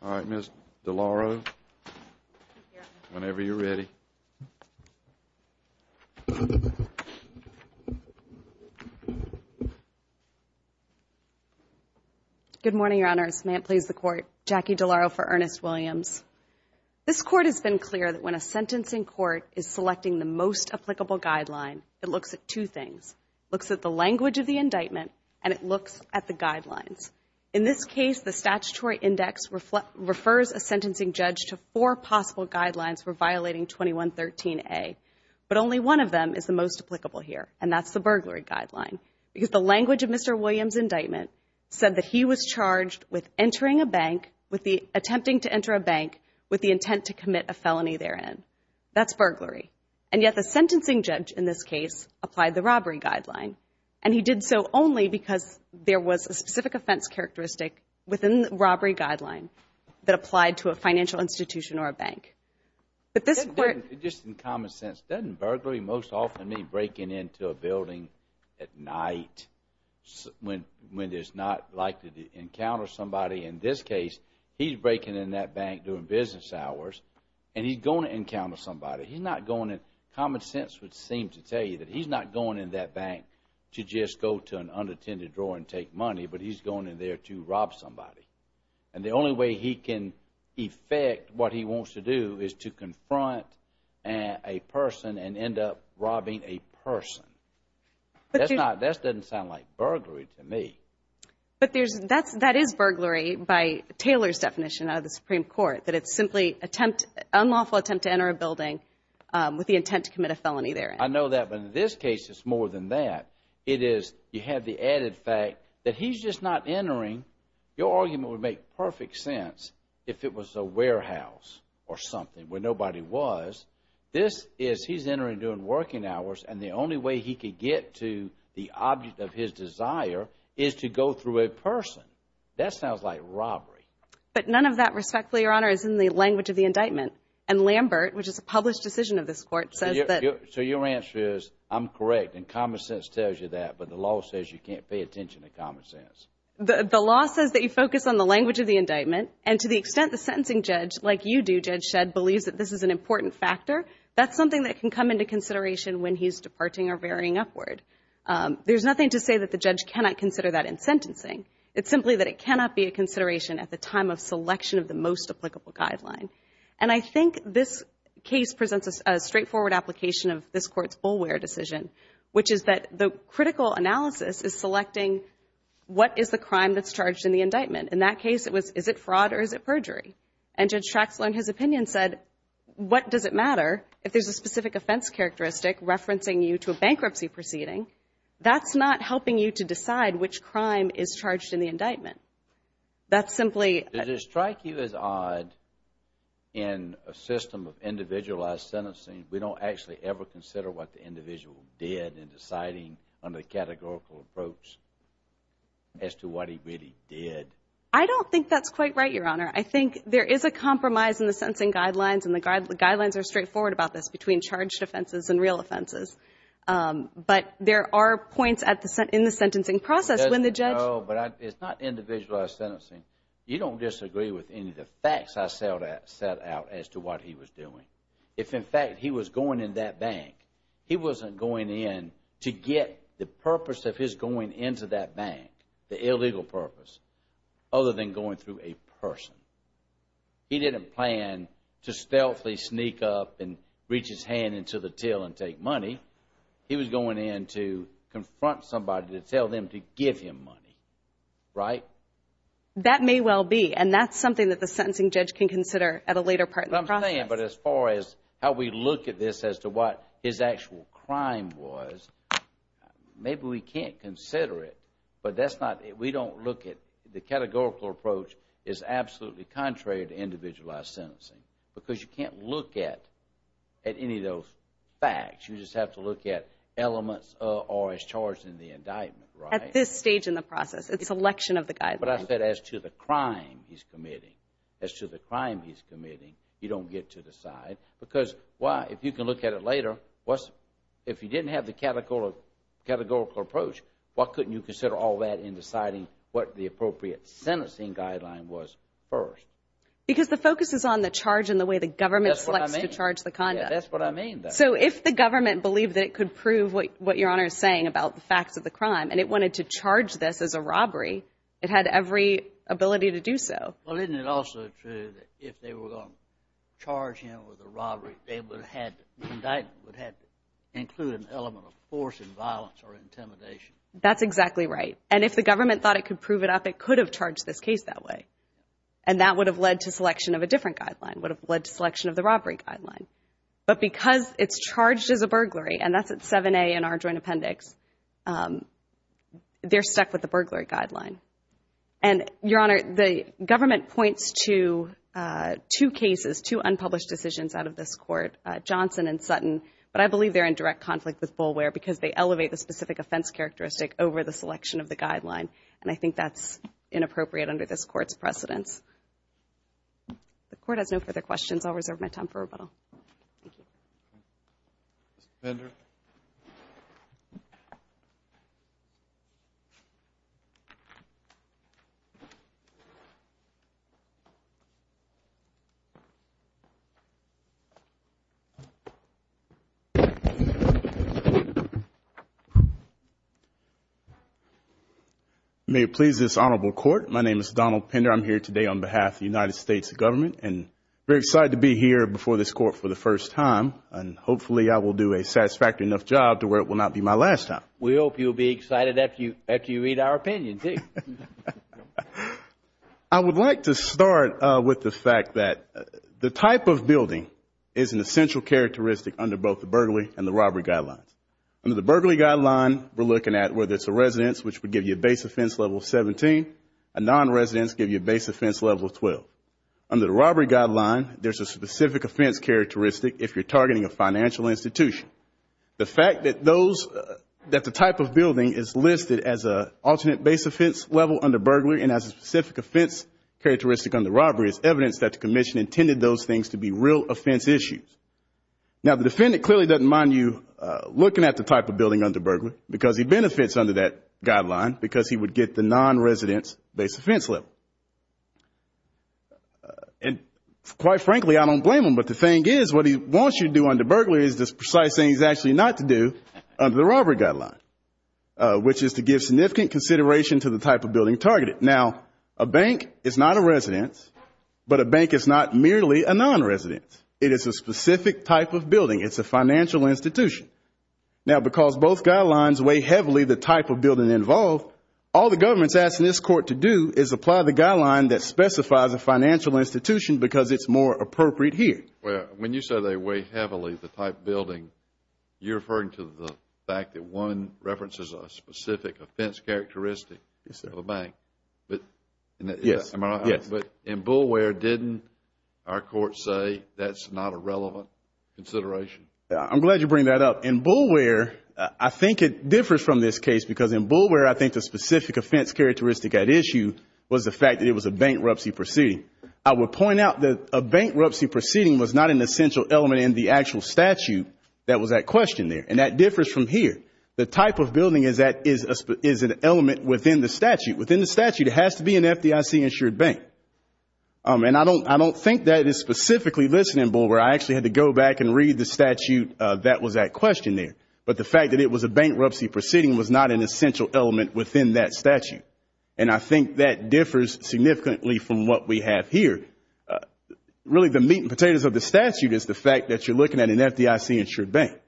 All right, Ms. DeLauro, whenever you're ready. Good morning, Your Honors. May it please the Court. Jackie DeLauro for Ernest Williams. This Court has been clear that when a sentencing court is selecting the most applicable guideline, it looks at two things, looks at the language of the indictment, and it looks at the guidelines. In this case, the statutory index refers a sentencing judge to four possible guidelines for violating 2113A, but only one of them is the most applicable here, and that's the burglary guideline, because the language of Mr. Williams' indictment said that he was charged with entering a bank, attempting to enter a bank, with the intent to commit a felony therein. That's burglary. And yet the sentencing judge in this case applied the robbery guideline, and he did so only because there was a specific offense characteristic within the robbery guideline that applied to a financial institution or a bank. But this Court— Just in common sense, doesn't burglary most often mean breaking into a building at night when there's not likely to encounter somebody? In this case, he's breaking into that bank during business hours, and he's going to encounter somebody. He's not going in—common sense would seem to tell you that he's not going in that bank to just go to an unattended drawer and take money, but he's going in there to rob somebody. And the only way he can effect what he wants to do is to confront a person and end up robbing a person. That's not—that doesn't sound like burglary to me. But there's—that is burglary by Taylor's definition out of the Supreme Court, that it's simply attempt—unlawful attempt to enter a building with the intent to commit a felony there. I know that, but in this case, it's more than that. It is—you have the added fact that he's just not entering—your argument would make perfect sense if it was a warehouse or something where nobody was. This is—he's entering during working hours, and the only way he could get to the object of his desire is to go through a person. That sounds like robbery. But none of that, respectfully, Your Honor, is in the language of the indictment. And Lambert, which is a published decision of this Court, says that— So your answer is, I'm correct, and common sense tells you that, but the law says you can't pay attention to common sense. The law says that you focus on the language of the indictment, and to the extent the sentencing judge, like you do, Judge Shedd, believes that this is an important factor, that's something that can come into consideration when he's departing or veering upward. There's nothing to say that the judge cannot consider that in sentencing. It's simply that it cannot be a consideration at the time of selection of the most applicable guideline. And I think this case presents a straightforward application of this Court's fullware decision, which is that the critical analysis is selecting what is the crime that's charged in the indictment. In that case, it was, is it fraud or is it perjury? And Judge Traxler, in his opinion, said, what does it matter if there's a specific offense characteristic referencing you to a bankruptcy proceeding? That's not helping you to decide which crime is charged in the indictment. That's simply... Did it strike you as odd in a system of individualized sentencing, we don't actually ever consider what the individual did in deciding under the categorical approach as to what he really did? I don't think that's quite right, Your Honor. I think there is a compromise in the sentencing guidelines, and the guidelines are straightforward about this, between charged offenses and real offenses. But there are points in the sentencing process when the judge... No, but it's not individualized sentencing. You don't disagree with any of the facts I set out as to what he was doing. If in fact he was going in that bank, he wasn't going in to get the purpose of his going into that bank, the illegal purpose, other than going through a person. He didn't plan to stealthily sneak up and reach his hand into the till and take money. He was going in to confront somebody to tell them to give him money, right? That may well be, and that's something that the sentencing judge can consider at a later part in the process. But I'm saying, but as far as how we look at this as to what his actual crime was, maybe we can't consider it. But that's not... We don't look at... The categorical approach is absolutely contrary to individualized sentencing. Because you can't look at any of those facts, you just have to look at elements or as charged in the indictment, right? At this stage in the process, it's a selection of the guidelines. But I said as to the crime he's committing, as to the crime he's committing, you don't get to decide. Because why? If you can look at it later, if he didn't have the categorical approach, why couldn't you consider all that in deciding what the appropriate sentencing guideline was first? Because the focus is on the charge and the way the government selects to charge the conduct. That's what I mean. Yeah, that's what I mean. So if the government believed that it could prove what Your Honor is saying about the facts of the crime, and it wanted to charge this as a robbery, it had every ability to do so. Well, isn't it also true that if they were going to charge him with a robbery, the indictment would have to include an element of force and violence or intimidation? That's exactly right. And if the government thought it could prove it up, it could have charged this case that way. And that would have led to selection of a different guideline, would have led to selection of the robbery guideline. But because it's charged as a burglary, and that's at 7A in our joint appendix, they're stuck with the burglary guideline. And Your Honor, the government points to two cases, two unpublished decisions out of this court, Johnson and Sutton. But I believe they're in direct conflict with Boulware because they elevate the specific offense characteristic over the selection of the guideline. And I think that's inappropriate under this court's precedence. The court has no further questions. I'll reserve my time for rebuttal. Thank you. Mr. Fender? May it please this honorable court, my name is Donald Fender. I'm here today on behalf of the United States government and very excited to be here before this court for the first time. And hopefully I will do a satisfactory enough job to where it will not be my last time. We hope you'll be excited after you read our opinion too. I would like to start with the fact that the type of building is an essential characteristic under both the burglary and the robbery guidelines. Under the burglary guideline, we're looking at whether it's a residence, which would give you a base offense level of 17, a non-residence, give you a base offense level of 12. Under the robbery guideline, there's a specific offense characteristic if you're targeting a financial institution. The fact that the type of building is listed as an alternate base offense level under burglary and has a specific offense characteristic under robbery is evidence that the commission intended those things to be real offense issues. Now the defendant clearly doesn't mind you looking at the type of building under burglary because he benefits under that guideline because he would get the non-residence base offense level. And quite frankly, I don't blame him, but the thing is what he wants you to do under burglary is the precise thing he's actually not to do under the robbery guideline, which is to give significant consideration to the type of building targeted. Now a bank is not a residence, but a bank is not merely a non-residence. It is a specific type of building. It's a financial institution. Now because both guidelines weigh heavily the type of building involved, all the government's asking this court to do is apply the guideline that specifies a financial institution because it's more appropriate here. When you say they weigh heavily the type of building, you're referring to the fact that one references a specific offense characteristic of a bank, but in BULWARE didn't our court say that's not a relevant consideration? I'm glad you bring that up. In BULWARE, I think it differs from this case because in BULWARE I think the specific offense characteristic at issue was the fact that it was a bank rupsy proceeding. I would point out that a bank rupsy proceeding was not an essential element in the actual statute that was at question there, and that differs from here. The type of building is an element within the statute. Within the statute, it has to be an FDIC-insured bank, and I don't think that is specifically listed in BULWARE. I actually had to go back and read the statute that was at question there, but the fact that it was a bank rupsy proceeding was not an essential element within that statute, and I think that differs significantly from what we have here. Really the meat and potatoes of the statute is the fact that you're looking at an FDIC-insured bank.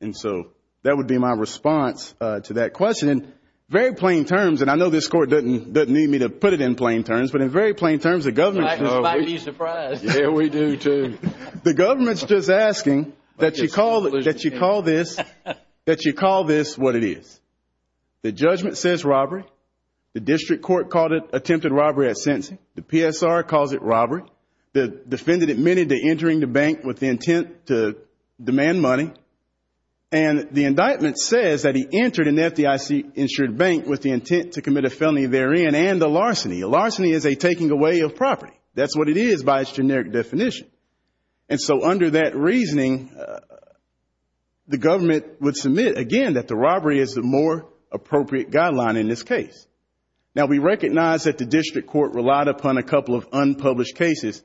And so that would be my response to that question. Very plain terms, and I know this Court doesn't need me to put it in plain terms, but in very plain terms the government is just asking that you call the that you call this what it is. The judgment says robbery. The district court called it attempted robbery at sentencing. The PSR calls it robbery. The defendant admitted to entering the bank with the intent to demand money, and the indictment says that he entered an FDIC-insured bank with the intent to commit a felony therein and a larceny. A larceny is a taking away of property. That's what it is by its generic definition. And so under that reasoning, the government would submit, again, that the robbery is the more appropriate guideline in this case. Now we recognize that the district court relied upon a couple of unpublished cases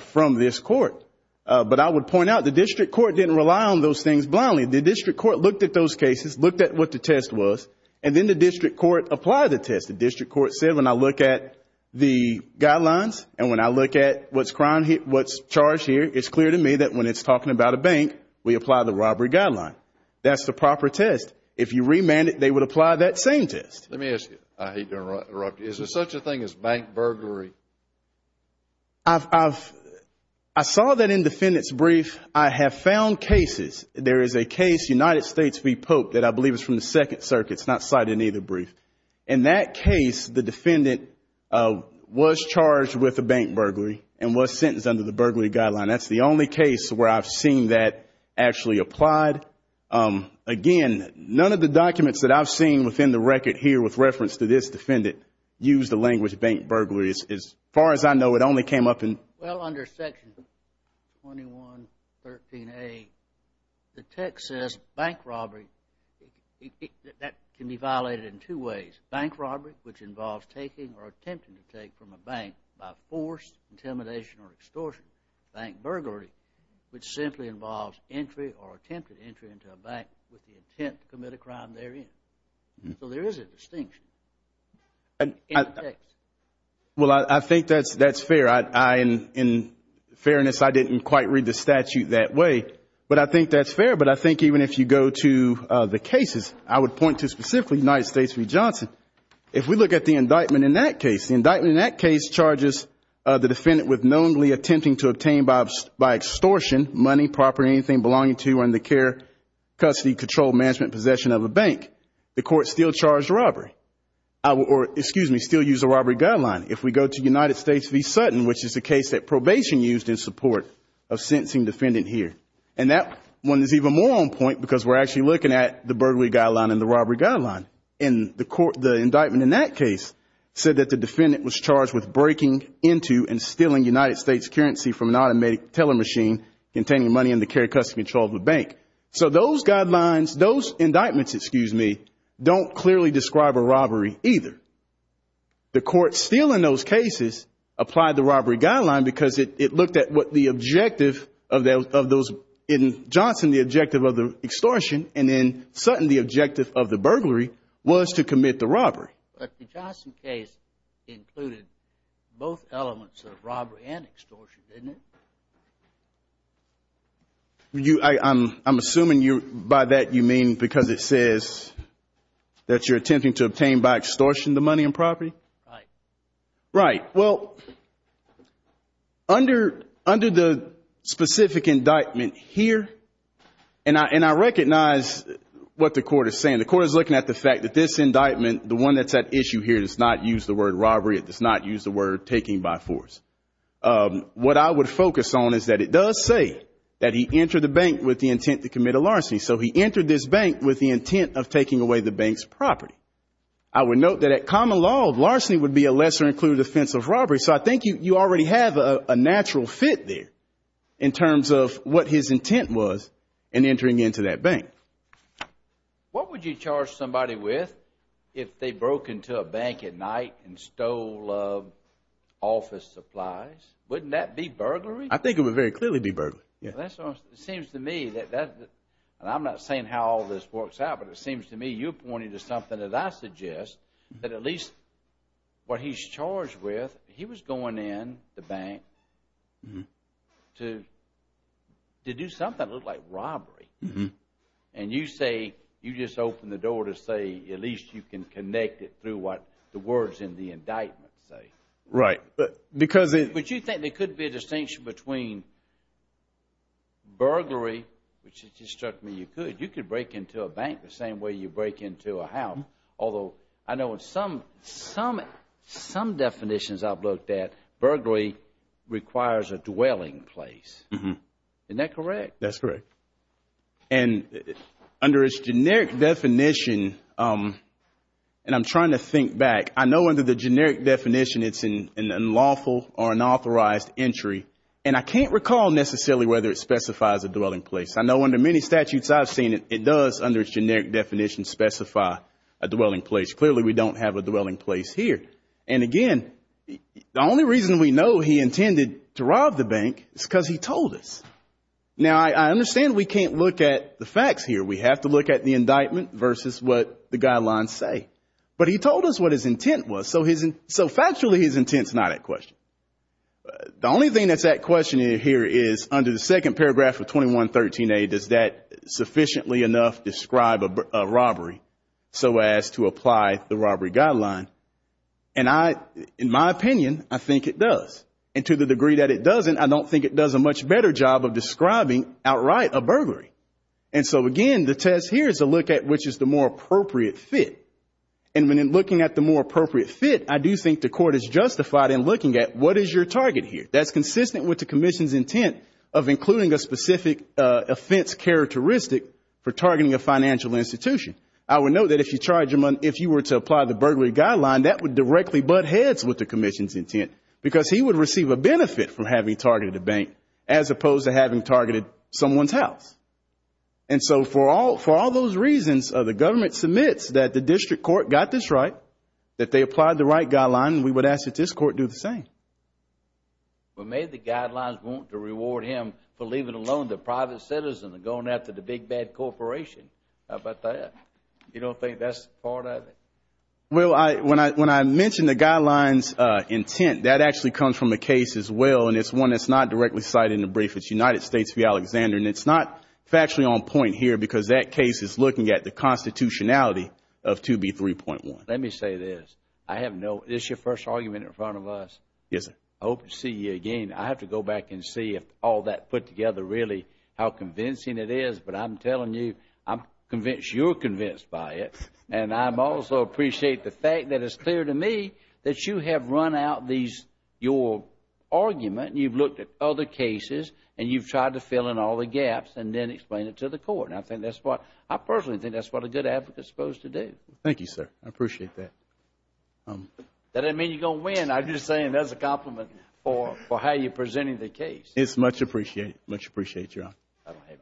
from this court, but I would point out the district court didn't rely on those things blindly. The district court looked at those cases, looked at what the test was, and then the district court applied the test. The district court said, when I look at the guidelines and when I look at what's charged here, it's clear to me that when it's talking about a bank, we apply the robbery guideline. That's the proper test. If you remand it, they would apply that same test. Let me ask you. I hate to interrupt. Is there such a thing as bank burglary? I saw that in the defendant's brief. I have found cases. There is a case, United States v. Pope, that I believe is from the Second Circuit. It's not cited in either brief. In that case, the defendant was charged with a bank burglary and was sentenced under the bank burglary guideline. That's the only case where I've seen that actually applied. Again, none of the documents that I've seen within the record here with reference to this defendant use the language bank burglary. As far as I know, it only came up in… Well, under Section 2113A, the text says bank robbery. That can be violated in two ways. Bank robbery, which involves taking or attempting to take from a bank by force, intimidation, or extortion. Bank burglary, which simply involves entry or attempted entry into a bank with the intent to commit a crime therein. So there is a distinction in the text. Well, I think that's fair. In fairness, I didn't quite read the statute that way, but I think that's fair. But I think even if you go to the cases, I would point to specifically United States v. Johnson. If we look at the indictment in that case, the indictment in that case charges the defendant with knowingly attempting to obtain by extortion money, property, or anything belonging to or in the care, custody, control, management, or possession of a bank. The court still charged robbery. Or excuse me, still used a robbery guideline. If we go to United States v. Sutton, which is the case that probation used in support of sentencing defendant here. And that one is even more on point because we're actually looking at the burglary guideline and the robbery guideline. And the indictment in that case said that the defendant was charged with breaking into and stealing United States currency from an automatic teller machine containing money in the care, custody, control of a bank. So those guidelines, those indictments, excuse me, don't clearly describe a robbery either. The court still in those cases applied the robbery guideline because it looked at what the objective of those, in Johnson, the objective of the extortion, and in Sutton, the objective of the burglary was to commit the robbery. Right. But the Johnson case included both elements of robbery and extortion, didn't it? I'm assuming by that you mean because it says that you're attempting to obtain by extortion the money and property? Right. Right. Well, under the specific indictment here, and I recognize what the court is saying. And the court is looking at the fact that this indictment, the one that's at issue here does not use the word robbery, it does not use the word taking by force. What I would focus on is that it does say that he entered the bank with the intent to commit a larceny. So he entered this bank with the intent of taking away the bank's property. I would note that at common law, larceny would be a lesser included offense of robbery. So I think you already have a natural fit there in terms of what his intent was in entering into that bank. Okay. What would you charge somebody with if they broke into a bank at night and stole office supplies? Wouldn't that be burglary? I think it would very clearly be burglary. Yeah. It seems to me that that, and I'm not saying how all this works out, but it seems to me you're pointing to something that I suggest that at least what he's charged with, he was And you say, you just opened the door to say at least you can connect it through what the words in the indictment say. Right. But you think there could be a distinction between burglary, which it struck me you could. You could break into a bank the same way you break into a house, although I know some definitions I've looked at, burglary requires a dwelling place. Isn't that correct? That's correct. And under its generic definition, and I'm trying to think back, I know under the generic definition it's an unlawful or unauthorized entry, and I can't recall necessarily whether it specifies a dwelling place. I know under many statutes I've seen it, it does under its generic definition specify a dwelling place. Clearly we don't have a dwelling place here. And again, the only reason we know he intended to rob the bank is because he told us. Now I understand we can't look at the facts here. We have to look at the indictment versus what the guidelines say. But he told us what his intent was, so factually his intent's not at question. The only thing that's at question here is under the second paragraph of 2113A, does that sufficiently enough describe a robbery so as to apply the robbery guideline? And I, in my opinion, I think it does. And to the degree that it doesn't, I don't think it does a much better job of describing outright a burglary. And so again, the test here is to look at which is the more appropriate fit. And when in looking at the more appropriate fit, I do think the court is justified in looking at what is your target here? That's consistent with the commission's intent of including a specific offense characteristic for targeting a financial institution. I would note that if you charge him, if you were to apply the burglary guideline, that would directly butt heads with the commission's intent because he would receive a benefit from having targeted a bank as opposed to having targeted someone's house. And so for all those reasons, the government submits that the district court got this right, that they applied the right guideline, and we would ask that this court do the same. But may the guidelines want to reward him for leaving a loan to a private citizen and going after the big bad corporation, how about that? You don't think that's part of it? Well, when I mention the guidelines intent, that actually comes from a case as well, and it's one that's not directly cited in the brief. It's United States v. Alexander, and it's not factually on point here because that case is looking at the constitutionality of 2B3.1. Let me say this. I have no issue. This is your first argument in front of us. Yes, sir. I hope to see you again. I have to go back and see if all that put together really, how convincing it is. But I'm telling you, I'm convinced you're convinced by it. And I also appreciate the fact that it's clear to me that you have run out your argument, you've looked at other cases, and you've tried to fill in all the gaps and then explain it to the court. I personally think that's what a good advocate is supposed to do. Thank you, sir. I appreciate that. That doesn't mean you're going to win. I'm just saying that's a compliment for how you're presenting the case. It's much appreciated. Much appreciated, Your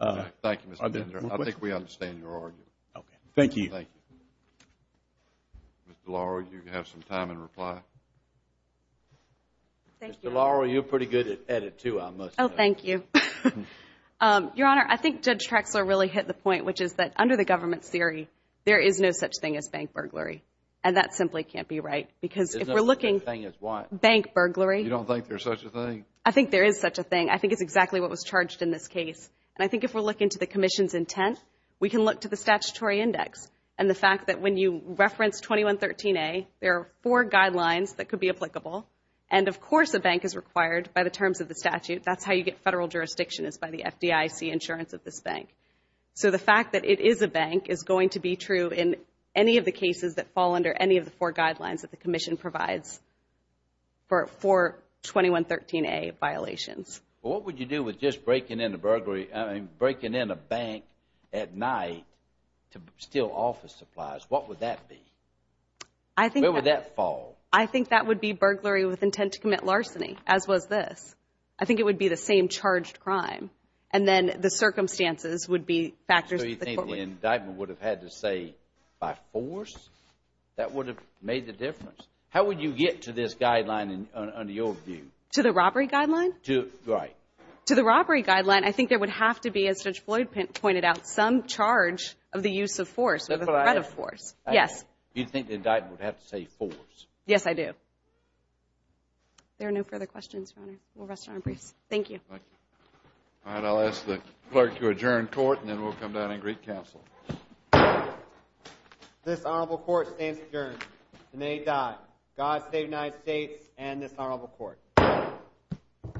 Honor. Thank you, Mr. Bender. I think we understand your argument. Okay. Thank you. Ms. DeLauro, you have some time in reply. Thank you. Ms. DeLauro, you're pretty good at it, too, I must say. Oh, thank you. Your Honor, I think Judge Trexler really hit the point, which is that under the government's theory, there is no such thing as bank burglary. And that simply can't be right. Because if we're looking... There's no such thing as what? Bank burglary. You don't think there's such a thing? I think there is such a thing. I think it's exactly what was charged in this case. And I think if we're looking to the Commission's intent, we can look to the statutory index and the fact that when you reference 2113A, there are four guidelines that could be applicable. And of course, a bank is required by the terms of the statute. That's how you get federal jurisdiction, is by the FDIC insurance of this bank. So the fact that it is a bank is going to be true in any of the cases that fall under any of the four guidelines that the Commission provides for 2113A violations. Well, what would you do with just breaking in a bank at night to steal office supplies? What would that be? Where would that fall? I think that would be burglary with intent to commit larceny, as was this. I think it would be the same charged crime. And then the circumstances would be factors that the court would... So you think the indictment would have had to say, by force? That would have made the difference? How would you get to this guideline under your view? To the robbery guideline? Right. To the robbery guideline, I think there would have to be, as Judge Floyd pointed out, some charge of the use of force, or the threat of force. Yes. You think the indictment would have to say force? Yes, I do. If there are no further questions, Your Honor, we'll rest our briefs. Thank you. Thank you. All right. I'll ask the clerk to adjourn court, and then we'll come down and greet counsel. This Honorable Court stands adjourned. The name died. God save the United States and this Honorable Court. Thank you.